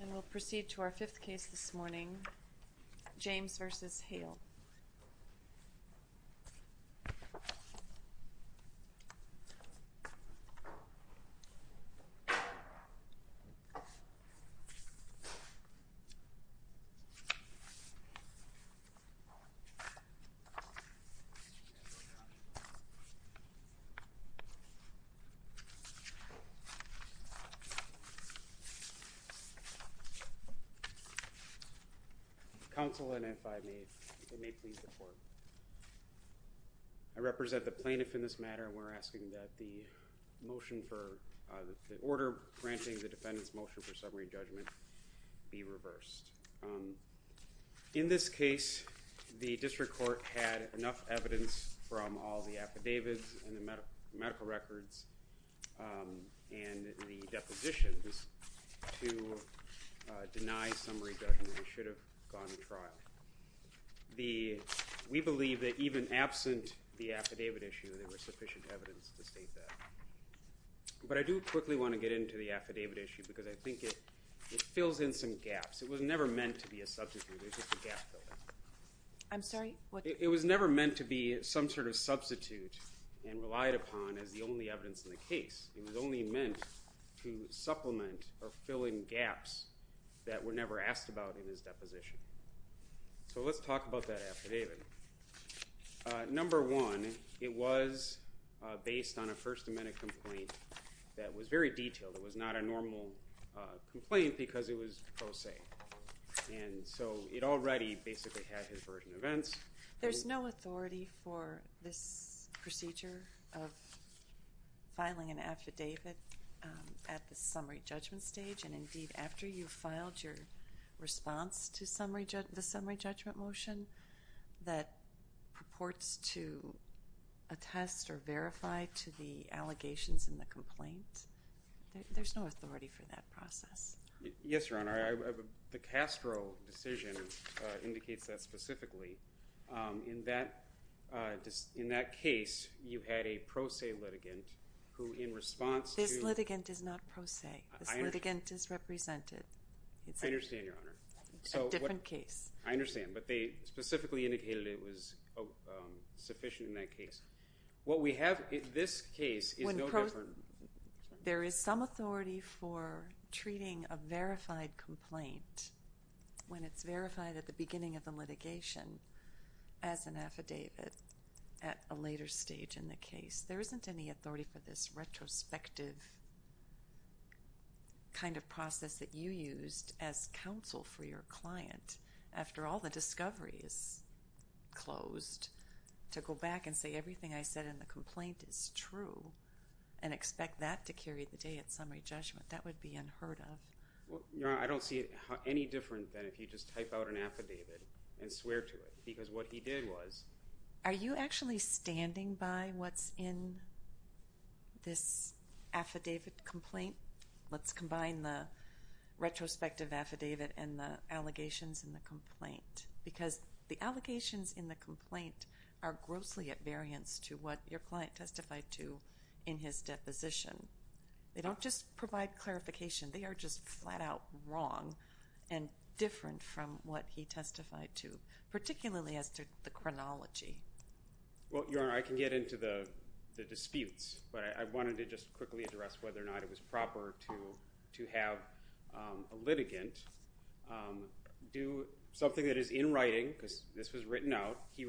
And we'll proceed to our fifth case this morning, James v. Hale. Counsel, and if I may, if I may please report. I represent the plaintiff in this matter and we're asking that the order granting the defendant's motion for summary judgment be reversed. In this case, the district court had enough evidence from all the affidavits and the medical records and the depositions to deny summary judgment and should have gone to trial. We believe that even absent the affidavit issue, there was sufficient evidence to state that. But I do quickly want to get into the affidavit issue because I think it fills in some gaps. It was never meant to be a substitute. It was never meant to be some sort of substitute and relied upon as the only evidence in the case. It was only meant to supplement or fill in gaps that were never asked about in his deposition. So let's talk about that affidavit. Number one, it was based on a first amendment complaint that was very detailed. It was not a normal complaint because it was pro se and so it already basically had his version of events. There's no authority for this procedure of filing an affidavit at the summary judgment stage and indeed after you filed your response to the summary judgment motion that purports to attest or verify to the allegations in the complaint. There's no authority for that process. Yes, Your Honor. The Castro decision indicates that specifically in that case you had a pro se litigant who in response to... This litigant is not pro se. This litigant is represented. I understand, Your Honor. It's a different case. I understand but they specifically indicated it was sufficient in that case. What we have in this case is no different. There is some authority for treating a verified complaint when it's verified at the beginning of the litigation as an affidavit at a later stage in the case. There isn't any authority for this retrospective kind of process that you used as counsel for your client after all the discovery is closed to go back and say everything I said in the complaint is true and expect that to carry the day at summary judgment. That would be unheard of. Your Honor, I don't see it any different than if you just type out an affidavit and swear to it because what he did was... Are you actually standing by what's in this affidavit complaint? Let's combine the retrospective affidavit and the allegations in the complaint because the allegations in the complaint are grossly to what your client testified to in his deposition. They don't just provide clarification. They are just flat-out wrong and different from what he testified to, particularly as to the chronology. Well, Your Honor, I can get into the disputes but I wanted to just quickly address whether or not it was proper to have a litigant do something that is in writing because this was written out. He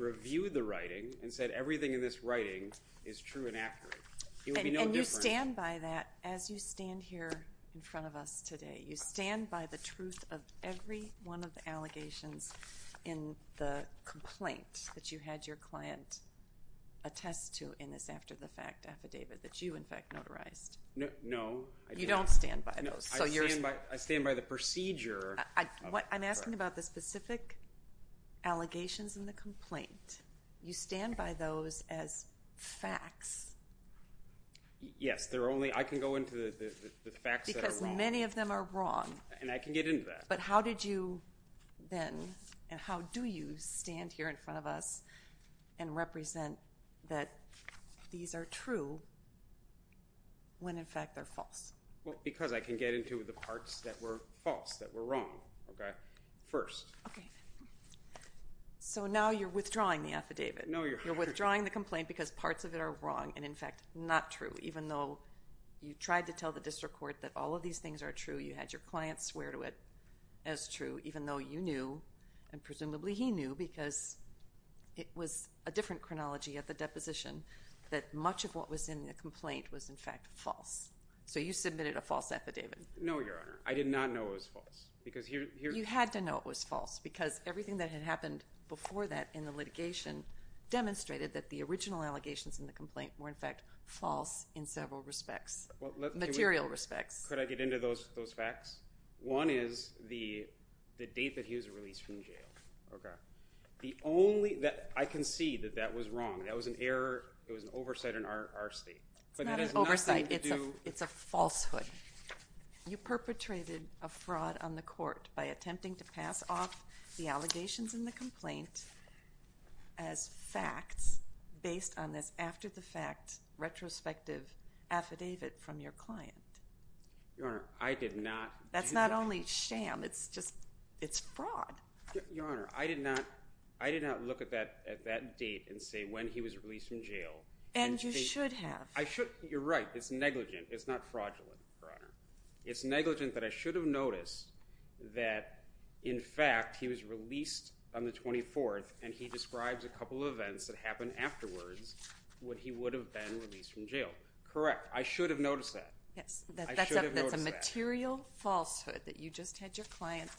said everything in this writing is true and accurate. It would be no different... And you stand by that as you stand here in front of us today. You stand by the truth of every one of the allegations in the complaint that you had your client attest to in this after the fact affidavit that you in fact notarized. No, I don't. You don't stand by those. I stand by the procedure. I'm asking about the specific allegations in the complaint. You stand by those as facts. Yes, I can go into the facts that are wrong. Because many of them are wrong. And I can get into that. But how did you then and how do you stand here in front of us and represent that these are true when in fact they're false? Because I can get into the parts that were false, that were wrong first. So now you're in the complaint because parts of it are wrong and in fact not true even though you tried to tell the district court that all of these things are true. You had your client swear to it as true even though you knew and presumably he knew because it was a different chronology at the deposition that much of what was in the complaint was in fact false. So you submitted a false affidavit. No, Your Honor. I did not know it was false because here... You had to know it was false because everything that had happened before that in the litigation demonstrated that the original allegations in the complaint were in fact false in several respects, material respects. Could I get into those facts? One is the date that he was released from jail. Okay. The only... I can see that that was wrong. That was an error. It was an oversight in our state. It's not an oversight. It's a falsehood. You perpetrated a fraud on the court by attempting to pass off the allegations in the complaint as facts based on this after the fact retrospective affidavit from your client. Your Honor, I did not... That's not only sham, it's just, it's fraud. Your Honor, I did not look at that date and say when he was released from jail. And you should have. You're right, it's negligent. It's not fraudulent, Your Honor. It's negligent that I should have noticed that in fact he was released on the 24th and he describes a couple of events that happened afterwards when he would have been released from jail. Correct. I should have noticed that. Yes. That's a material falsehood that you just had your client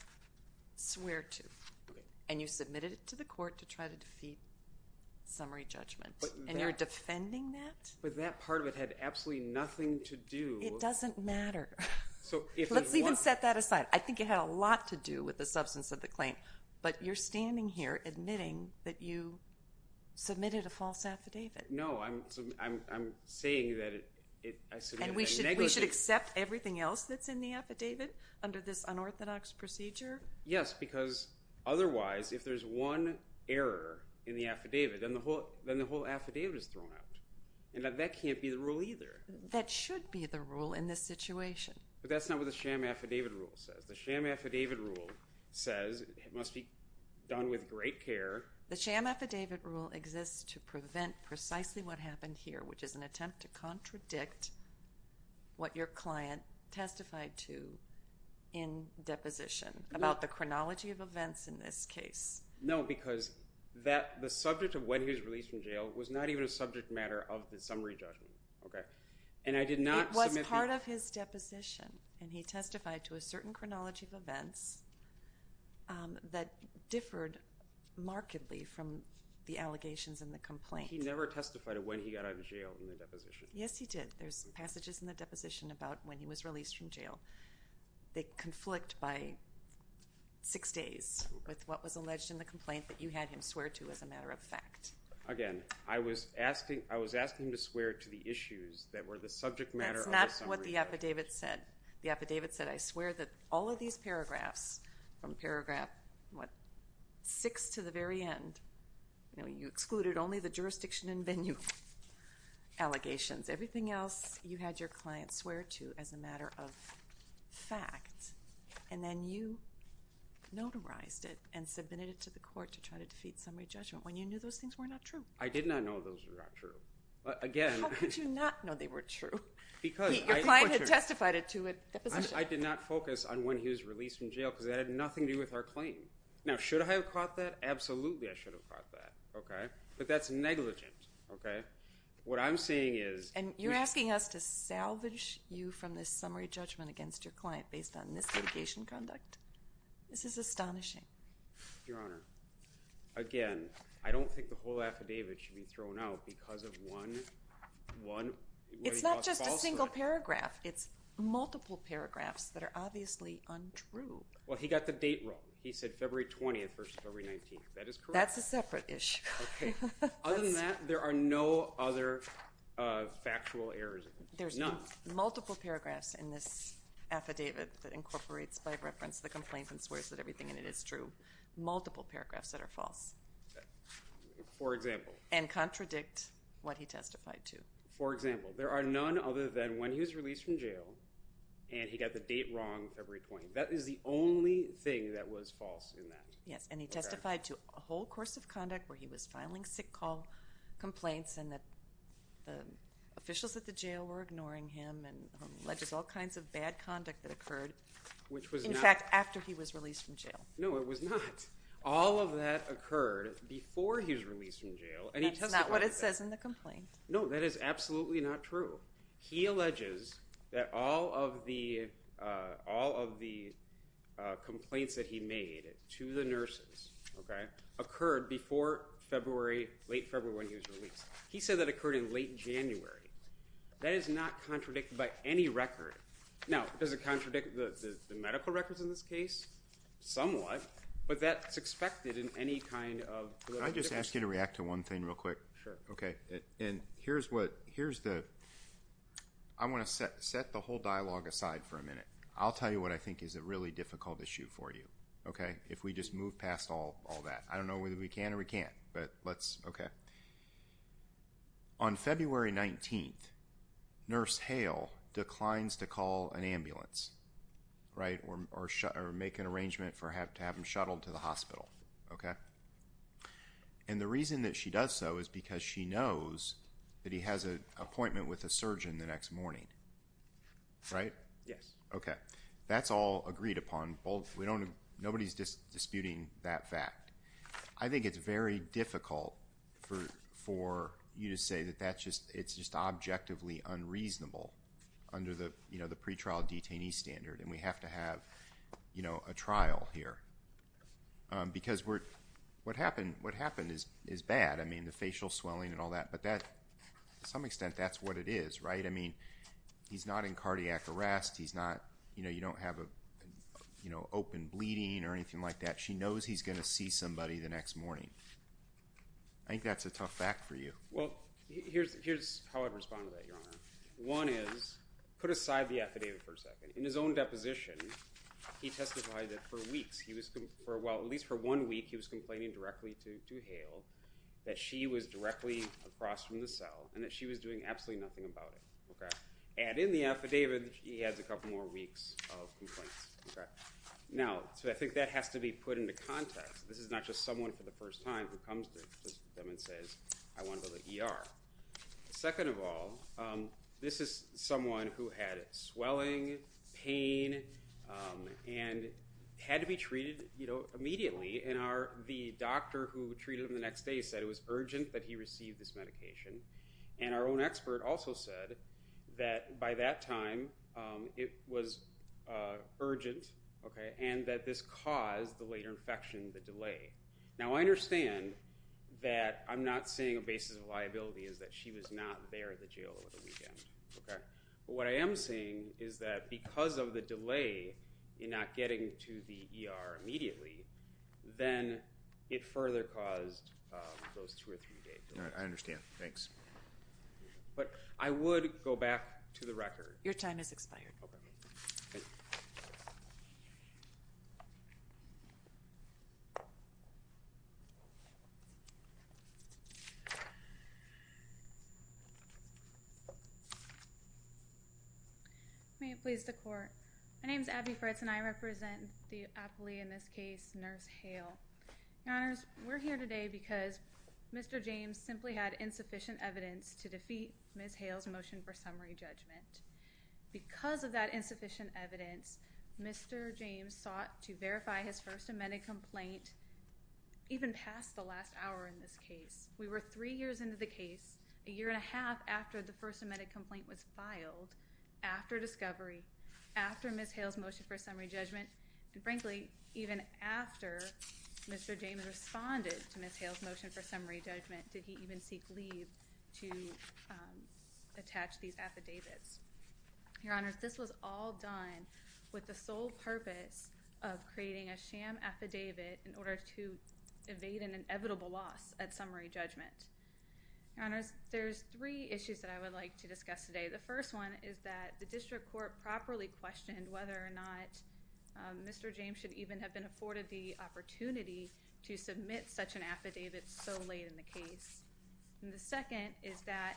swear to. Okay. And you submitted it to the court to try to defeat summary judgment. But that... And you're defending that? But that part of it had absolutely nothing to do... It doesn't matter. So if... Let's even set that aside. I think it had a lot to do with the substance of the claim. But you're standing here admitting that you submitted a false affidavit. No, I'm saying that it... And we should accept everything else that's in the affidavit under this unorthodox procedure? Yes, because otherwise if there's one error in the affidavit, then the whole affidavit is thrown out. And that can't be the rule either. That should be the rule in this situation. But that's not what the sham affidavit rule says. The sham affidavit rule says it must be done with great care. The sham affidavit rule exists to prevent precisely what happened here, which is an attempt to contradict what your client testified to in deposition about the chronology of events in this case. No, because the subject of what he was released from jail was not even a subject matter of the summary judgment. And I did not submit... It was part of his deposition. And he testified to a certain complaint. He never testified to when he got out of jail in the deposition. Yes, he did. There's passages in the deposition about when he was released from jail. They conflict by six days with what was alleged in the complaint that you had him swear to as a matter of fact. Again, I was asking him to swear to the issues that were the subject matter of the summary... That's not what the affidavit said. The affidavit said, I swear that all of these paragraphs, from paragraph 6 to the very end, you excluded only the jurisdiction and venue allegations. Everything else, you had your client swear to as a matter of fact, and then you notarized it and submitted it to the court to try to defeat summary judgment when you knew those things were not true. I did not know those were not true. Again... How could you not know they were true? Your client had testified to it. I did not focus on when he was released from jail because that had nothing to do with our claim. Now, should I have caught that? Absolutely, I should have caught that, okay? But that's negligent, okay? What I'm saying is... And you're asking us to salvage you from this summary judgment against your client based on misdedication conduct? This is astonishing. Your Honor, again, I don't think the whole affidavit should be thrown out because of one... It's not just a single paragraph. It's multiple paragraphs in this affidavit that incorporates, by reference, the complaints and swears that everything in it is true. Multiple paragraphs that are false. For example. And contradict what he testified to. For example, there are none other than when he was released from jail and he got the date wrong, February 20th. That is the only thing that was false in that. Yes, and he testified to a whole course of conduct where he was filing sick call complaints and that the officials at the jail were ignoring him and alleges all kinds of bad conduct that occurred. Which was not... In fact, after he was released from jail. No, it was not. All of that occurred before he was released from jail and he testified to that. That's not what it says in the complaint. No, that is absolutely not true. He alleges that all of the complaints that he made to the nurses occurred before late February when he was released. He said that occurred in late January. That is not contradicted by any record. Now, does it contradict the medical records in this case? Somewhat, but that's expected in any kind of... Can I just ask you to react to one thing real quick? Sure. Okay, and here's what... Here's the... I want to set the whole dialogue aside for a minute. I'll tell you what I think is a really difficult issue for you, okay? If we just move past all that. I don't know whether we can or we can't, but let's... Okay. On February 19th, Nurse Hale declines to call an ambulance, right? Or make an arrangement for her to have him shuttled to the hospital, okay? And the reason that she does so is because she knows that he has an appointment with a surgeon the next morning, right? Yes. Okay. That's all agreed upon. We don't... Nobody's disputing that fact. I think it's very difficult for you to say that that's just... It's just objectively unreasonable under the, you know, the pretrial detainee standard, and we have to have, you know, a trial here. Because what happened is bad. I mean, the facial swelling and all that. But that, to some extent, that's what it is, right? I mean, he's not in cardiac arrest. He's not, you know, you don't have a, you know, open bleeding or anything like that. She knows he's going to see somebody the next morning. I think that's a tough fact for you. Well, here's how I'd respond to that, Your Honor. One is, put aside the affidavit for a second. In his own deposition, he testified that for weeks, he was, at least for one week, he was complaining directly to Hale that she was directly across from the cell and that she was doing absolutely nothing about it, okay? And in the affidavit, he has a couple more weeks of complaints. Now, so I think that has to be put into context. This is not just someone for the first time who comes to them and says, I want to go to the ER. Second of all, this is someone who had swelling, pain, and had to be treated, you know, immediately. And the doctor who treated him the next day said it was urgent that he receive this medication. And our own expert also said that by that time, it was urgent, okay, and that this caused the later infection, the delay. Now, I understand that I'm not saying a basis of liability is that she was not there at the jail over the weekend, okay? What I am saying is that because of the delay in not getting to the ER immediately, then it further caused those two or three days. I understand, thanks. But I would go back to the record. Your time has expired. May it please the court. My name is Abby Fritz, and I represent the appellee in this case, Nurse Hale. Your Honors, we're here today because Mr. James simply had insufficient evidence to defeat Ms. Hale's motion for summary judgment. Because of that insufficient evidence, Mr. James sought to verify his first amended complaint even past the last hour in this case. We were three years into the case, a year and a half after the first amended complaint was filed, after discovery, after Ms. Hale's motion for summary judgment, and frankly, even after Mr. James responded to Ms. Hale's motion for summary judgment, did he even seek leave to attach these affidavits. Your Honors, this was all done with the sole purpose of creating a sham affidavit in order to evade an inevitable loss at Your Honors, there's three issues that I would like to discuss today. The first one is that the District Court properly questioned whether or not Mr. James should even have been afforded the opportunity to submit such an affidavit so late in the case. And the second is that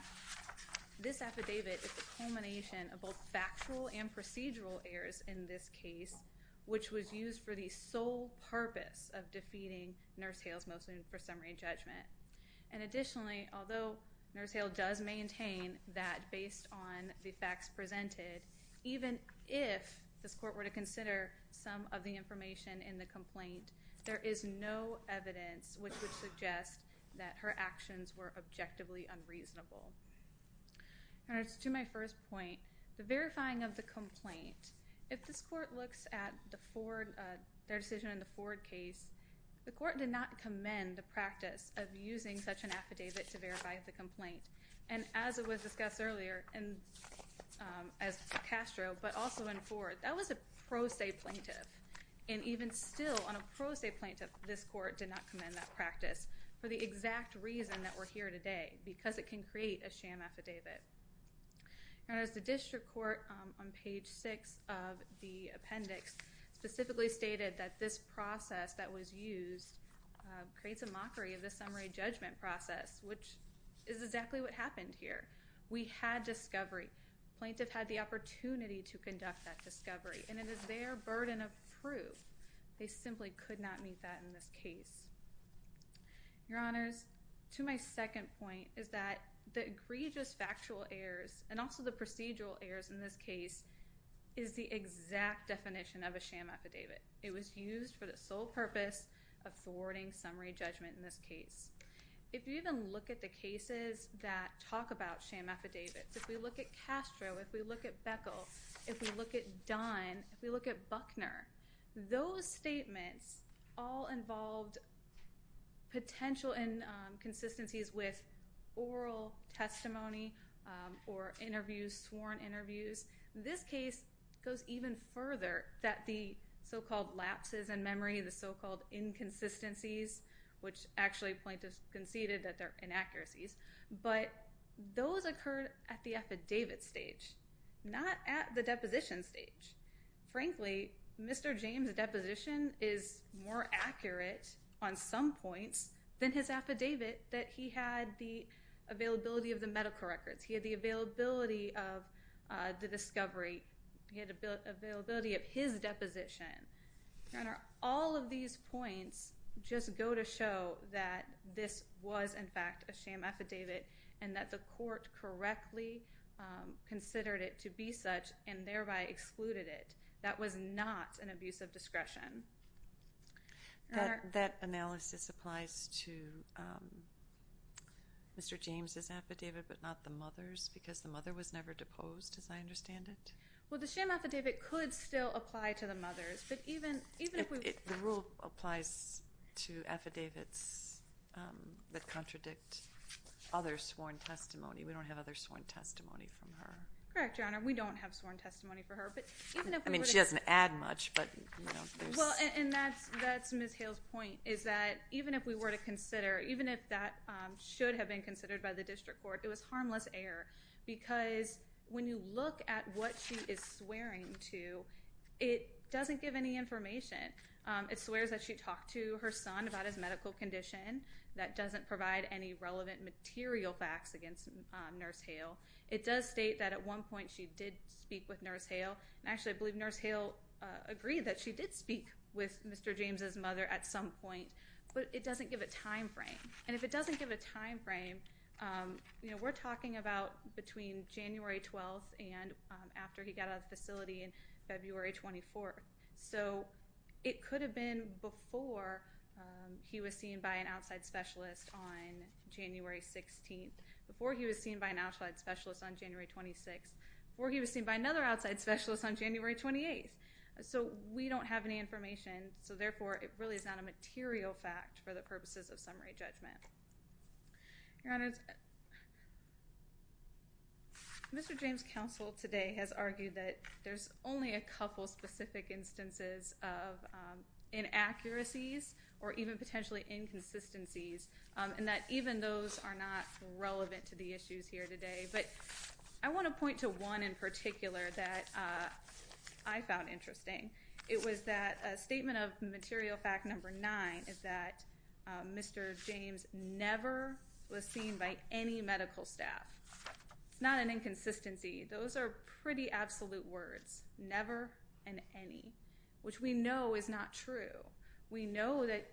this affidavit is the culmination of both factual and procedural errors in this case, which was used for the sole purpose of defeating Nurse Hale's motion for summary judgment. And additionally, although Nurse Hale does maintain that based on the facts presented, even if this court were to consider some of the information in the complaint, there is no evidence which would suggest that her actions were objectively unreasonable. Your Honors, to my first point, the verifying of the complaint, if this court looks at their decision in the Ford case, the court did not commend the practice of using such an affidavit to verify the complaint. And as was discussed earlier, as Castro, but also in Ford, that was a pro se plaintiff. And even still, on a pro se plaintiff, this court did not commend that practice for the exact reason that we're here today, because it can create a sham affidavit. Your Honors, the district court on page six of the appendix specifically stated that this process that was used creates a mockery of the summary judgment process, which is exactly what happened here. We had discovery. Plaintiff had the opportunity to conduct that discovery. And it is their burden of proof. They simply could not meet that in this case. Your Honors, to my second point, is that the egregious factual errors, and also the procedural errors in this case, is the exact definition of a sham affidavit. It was used for the sole purpose of thwarting summary judgment in this case. If you even look at the cases that talk about sham affidavits, if we look at Castro, if we look at Beckel, if we look at Dunn, if we look at Buckner, those statements all involved potential inconsistencies with oral testimony or interviews, sworn interviews. This case goes even further that the so-called lapses in memory, the so-called inconsistencies, which actually plaintiffs conceded that they're inaccuracies, but those occurred at the affidavit stage, not at the deposition stage. Frankly, Mr. James' deposition is more accurate on some points than his affidavit that he had the availability of the medical records. He had the availability of the discovery. He had availability of his affidavit and that the court correctly considered it to be such and thereby excluded it. That was not an abuse of discretion. That analysis applies to Mr. James' affidavit but not the mother's because the mother was never deposed as I understand it? Well, the sham affidavit could still apply to the mother's. The rule applies to affidavits that contradict other sworn testimony. We don't have other sworn testimony from her. Correct, Your Honor. We don't have sworn testimony from her. I mean, she doesn't add much. That's Ms. Hale's point is that even if we were to consider, even if that should have been considered by the district court, it was harmless error because when you look at what she is swearing to, it doesn't give any information. It swears that she talked to her son about his medical condition. That doesn't provide any relevant material facts against Nurse Hale. It does state that at one point she did speak with Nurse Hale and actually I believe Nurse Hale agreed that she did speak with Mr. James' mother at some point but it doesn't give a time frame. And if it doesn't give a time frame, you know, we're talking about between January 12th and after he got out of the facility in February 24th. So it could have been before he was seen by an outside specialist on January 16th, before he was seen by an outside specialist on January 26th, before he was seen by another outside specialist on January 28th. So we don't have any information so therefore it really is a material fact for the purposes of summary judgment. Your Honor, Mr. James' counsel today has argued that there's only a couple specific instances of inaccuracies or even potentially inconsistencies and that even those are not relevant to the issues here today. But I want to point to one in particular that I found interesting. It was that statement of material fact number nine is that Mr. James never was seen by any medical staff. It's not an inconsistency. Those are pretty absolute words. Never and any. Which we know is not true. We know that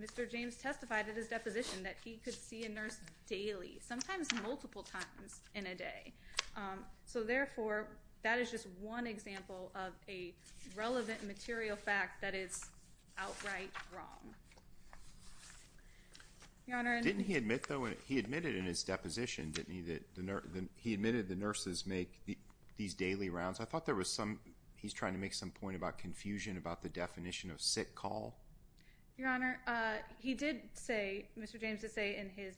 Mr. James testified at his deposition that he could see a nurse daily, sometimes multiple times in a day. So therefore, that is just one example of a relevant material fact that is outright wrong. Your Honor, didn't he admit though, he admitted in his deposition, didn't he, that he admitted the nurses make these daily rounds. I thought there was some, he's trying to make some point about confusion about the definition of sick call. Your Honor, he did say, Mr. James did say in his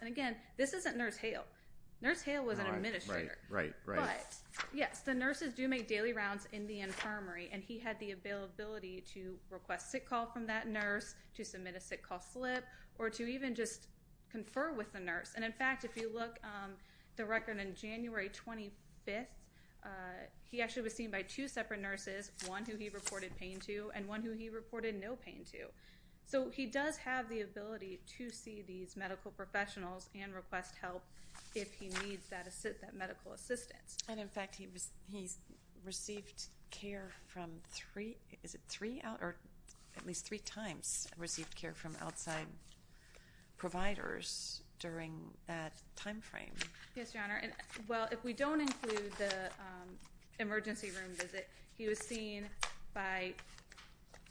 And again, this isn't Nurse Hale. Nurse Hale was an administrator. But yes, the nurses do make daily rounds in the infirmary and he had the ability to request sick call from that nurse, to submit a sick call slip, or to even just confer with the nurse. And in fact, if you look at the record on January 25th, he actually was seen by two separate nurses, one who he reported pain to and one who he reported no pain to. So he does have the ability to see these medical professionals and request help if he needs that medical assistance. And in fact, he received care from three, is it three, or at least three times received care from outside providers during that time frame. Yes, Your Honor. And well, if we don't include the emergency room visit, he was seen by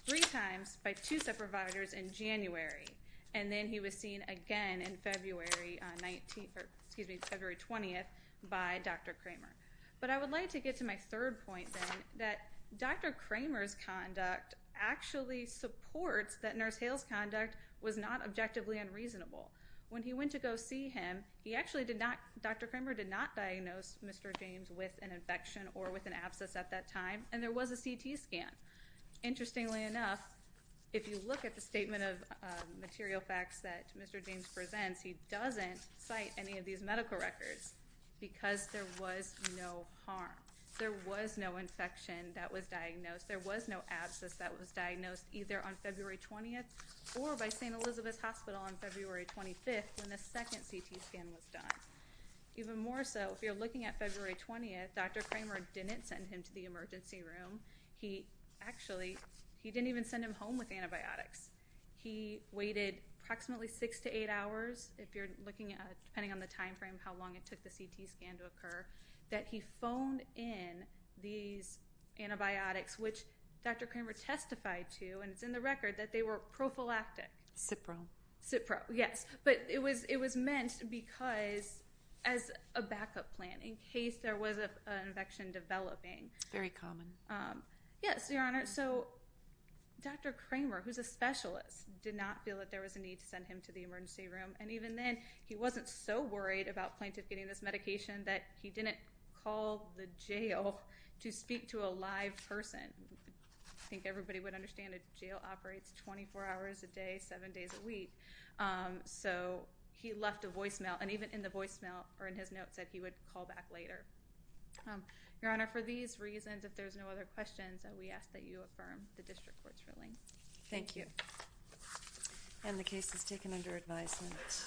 three times by two separate providers in January. And then he was seen again in February 19th, or excuse me, February 20th by Dr. Kramer. But I would like to get to my third point then, that Dr. Kramer's conduct actually supports that Nurse Hale's conduct was not objectively unreasonable. When he went to go see him, he actually did not, Dr. Kramer did not diagnose Mr. James with an infection. Interestingly enough, if you look at the statement of material facts that Mr. James presents, he doesn't cite any of these medical records because there was no harm. There was no infection that was diagnosed. There was no abscess that was diagnosed either on February 20th or by St. Elizabeth's Hospital on February 25th when the second CT scan was done. Even more so, if you're didn't even send him home with antibiotics. He waited approximately six to eight hours, if you're looking at, depending on the time frame, how long it took the CT scan to occur, that he phoned in these antibiotics, which Dr. Kramer testified to, and it's in the record, that they were prophylactic. Cipro. Cipro, yes. But it was meant because, as a backup plan, in case there was an infection developing. Very common. Yes, Your Honor, so Dr. Kramer, who's a specialist, did not feel that there was a need to send him to the emergency room. And even then, he wasn't so worried about plaintiff getting this medication that he didn't call the jail to speak to a live person. I think everybody would understand a jail operates 24 hours a day, seven days a week. So he left a voicemail, and even in the voicemail, or in his notes, that he would call back later. Your Honor, for these reasons, if there's no other questions, we ask that you affirm the district court's ruling. Thank you. And the case is taken under advisement.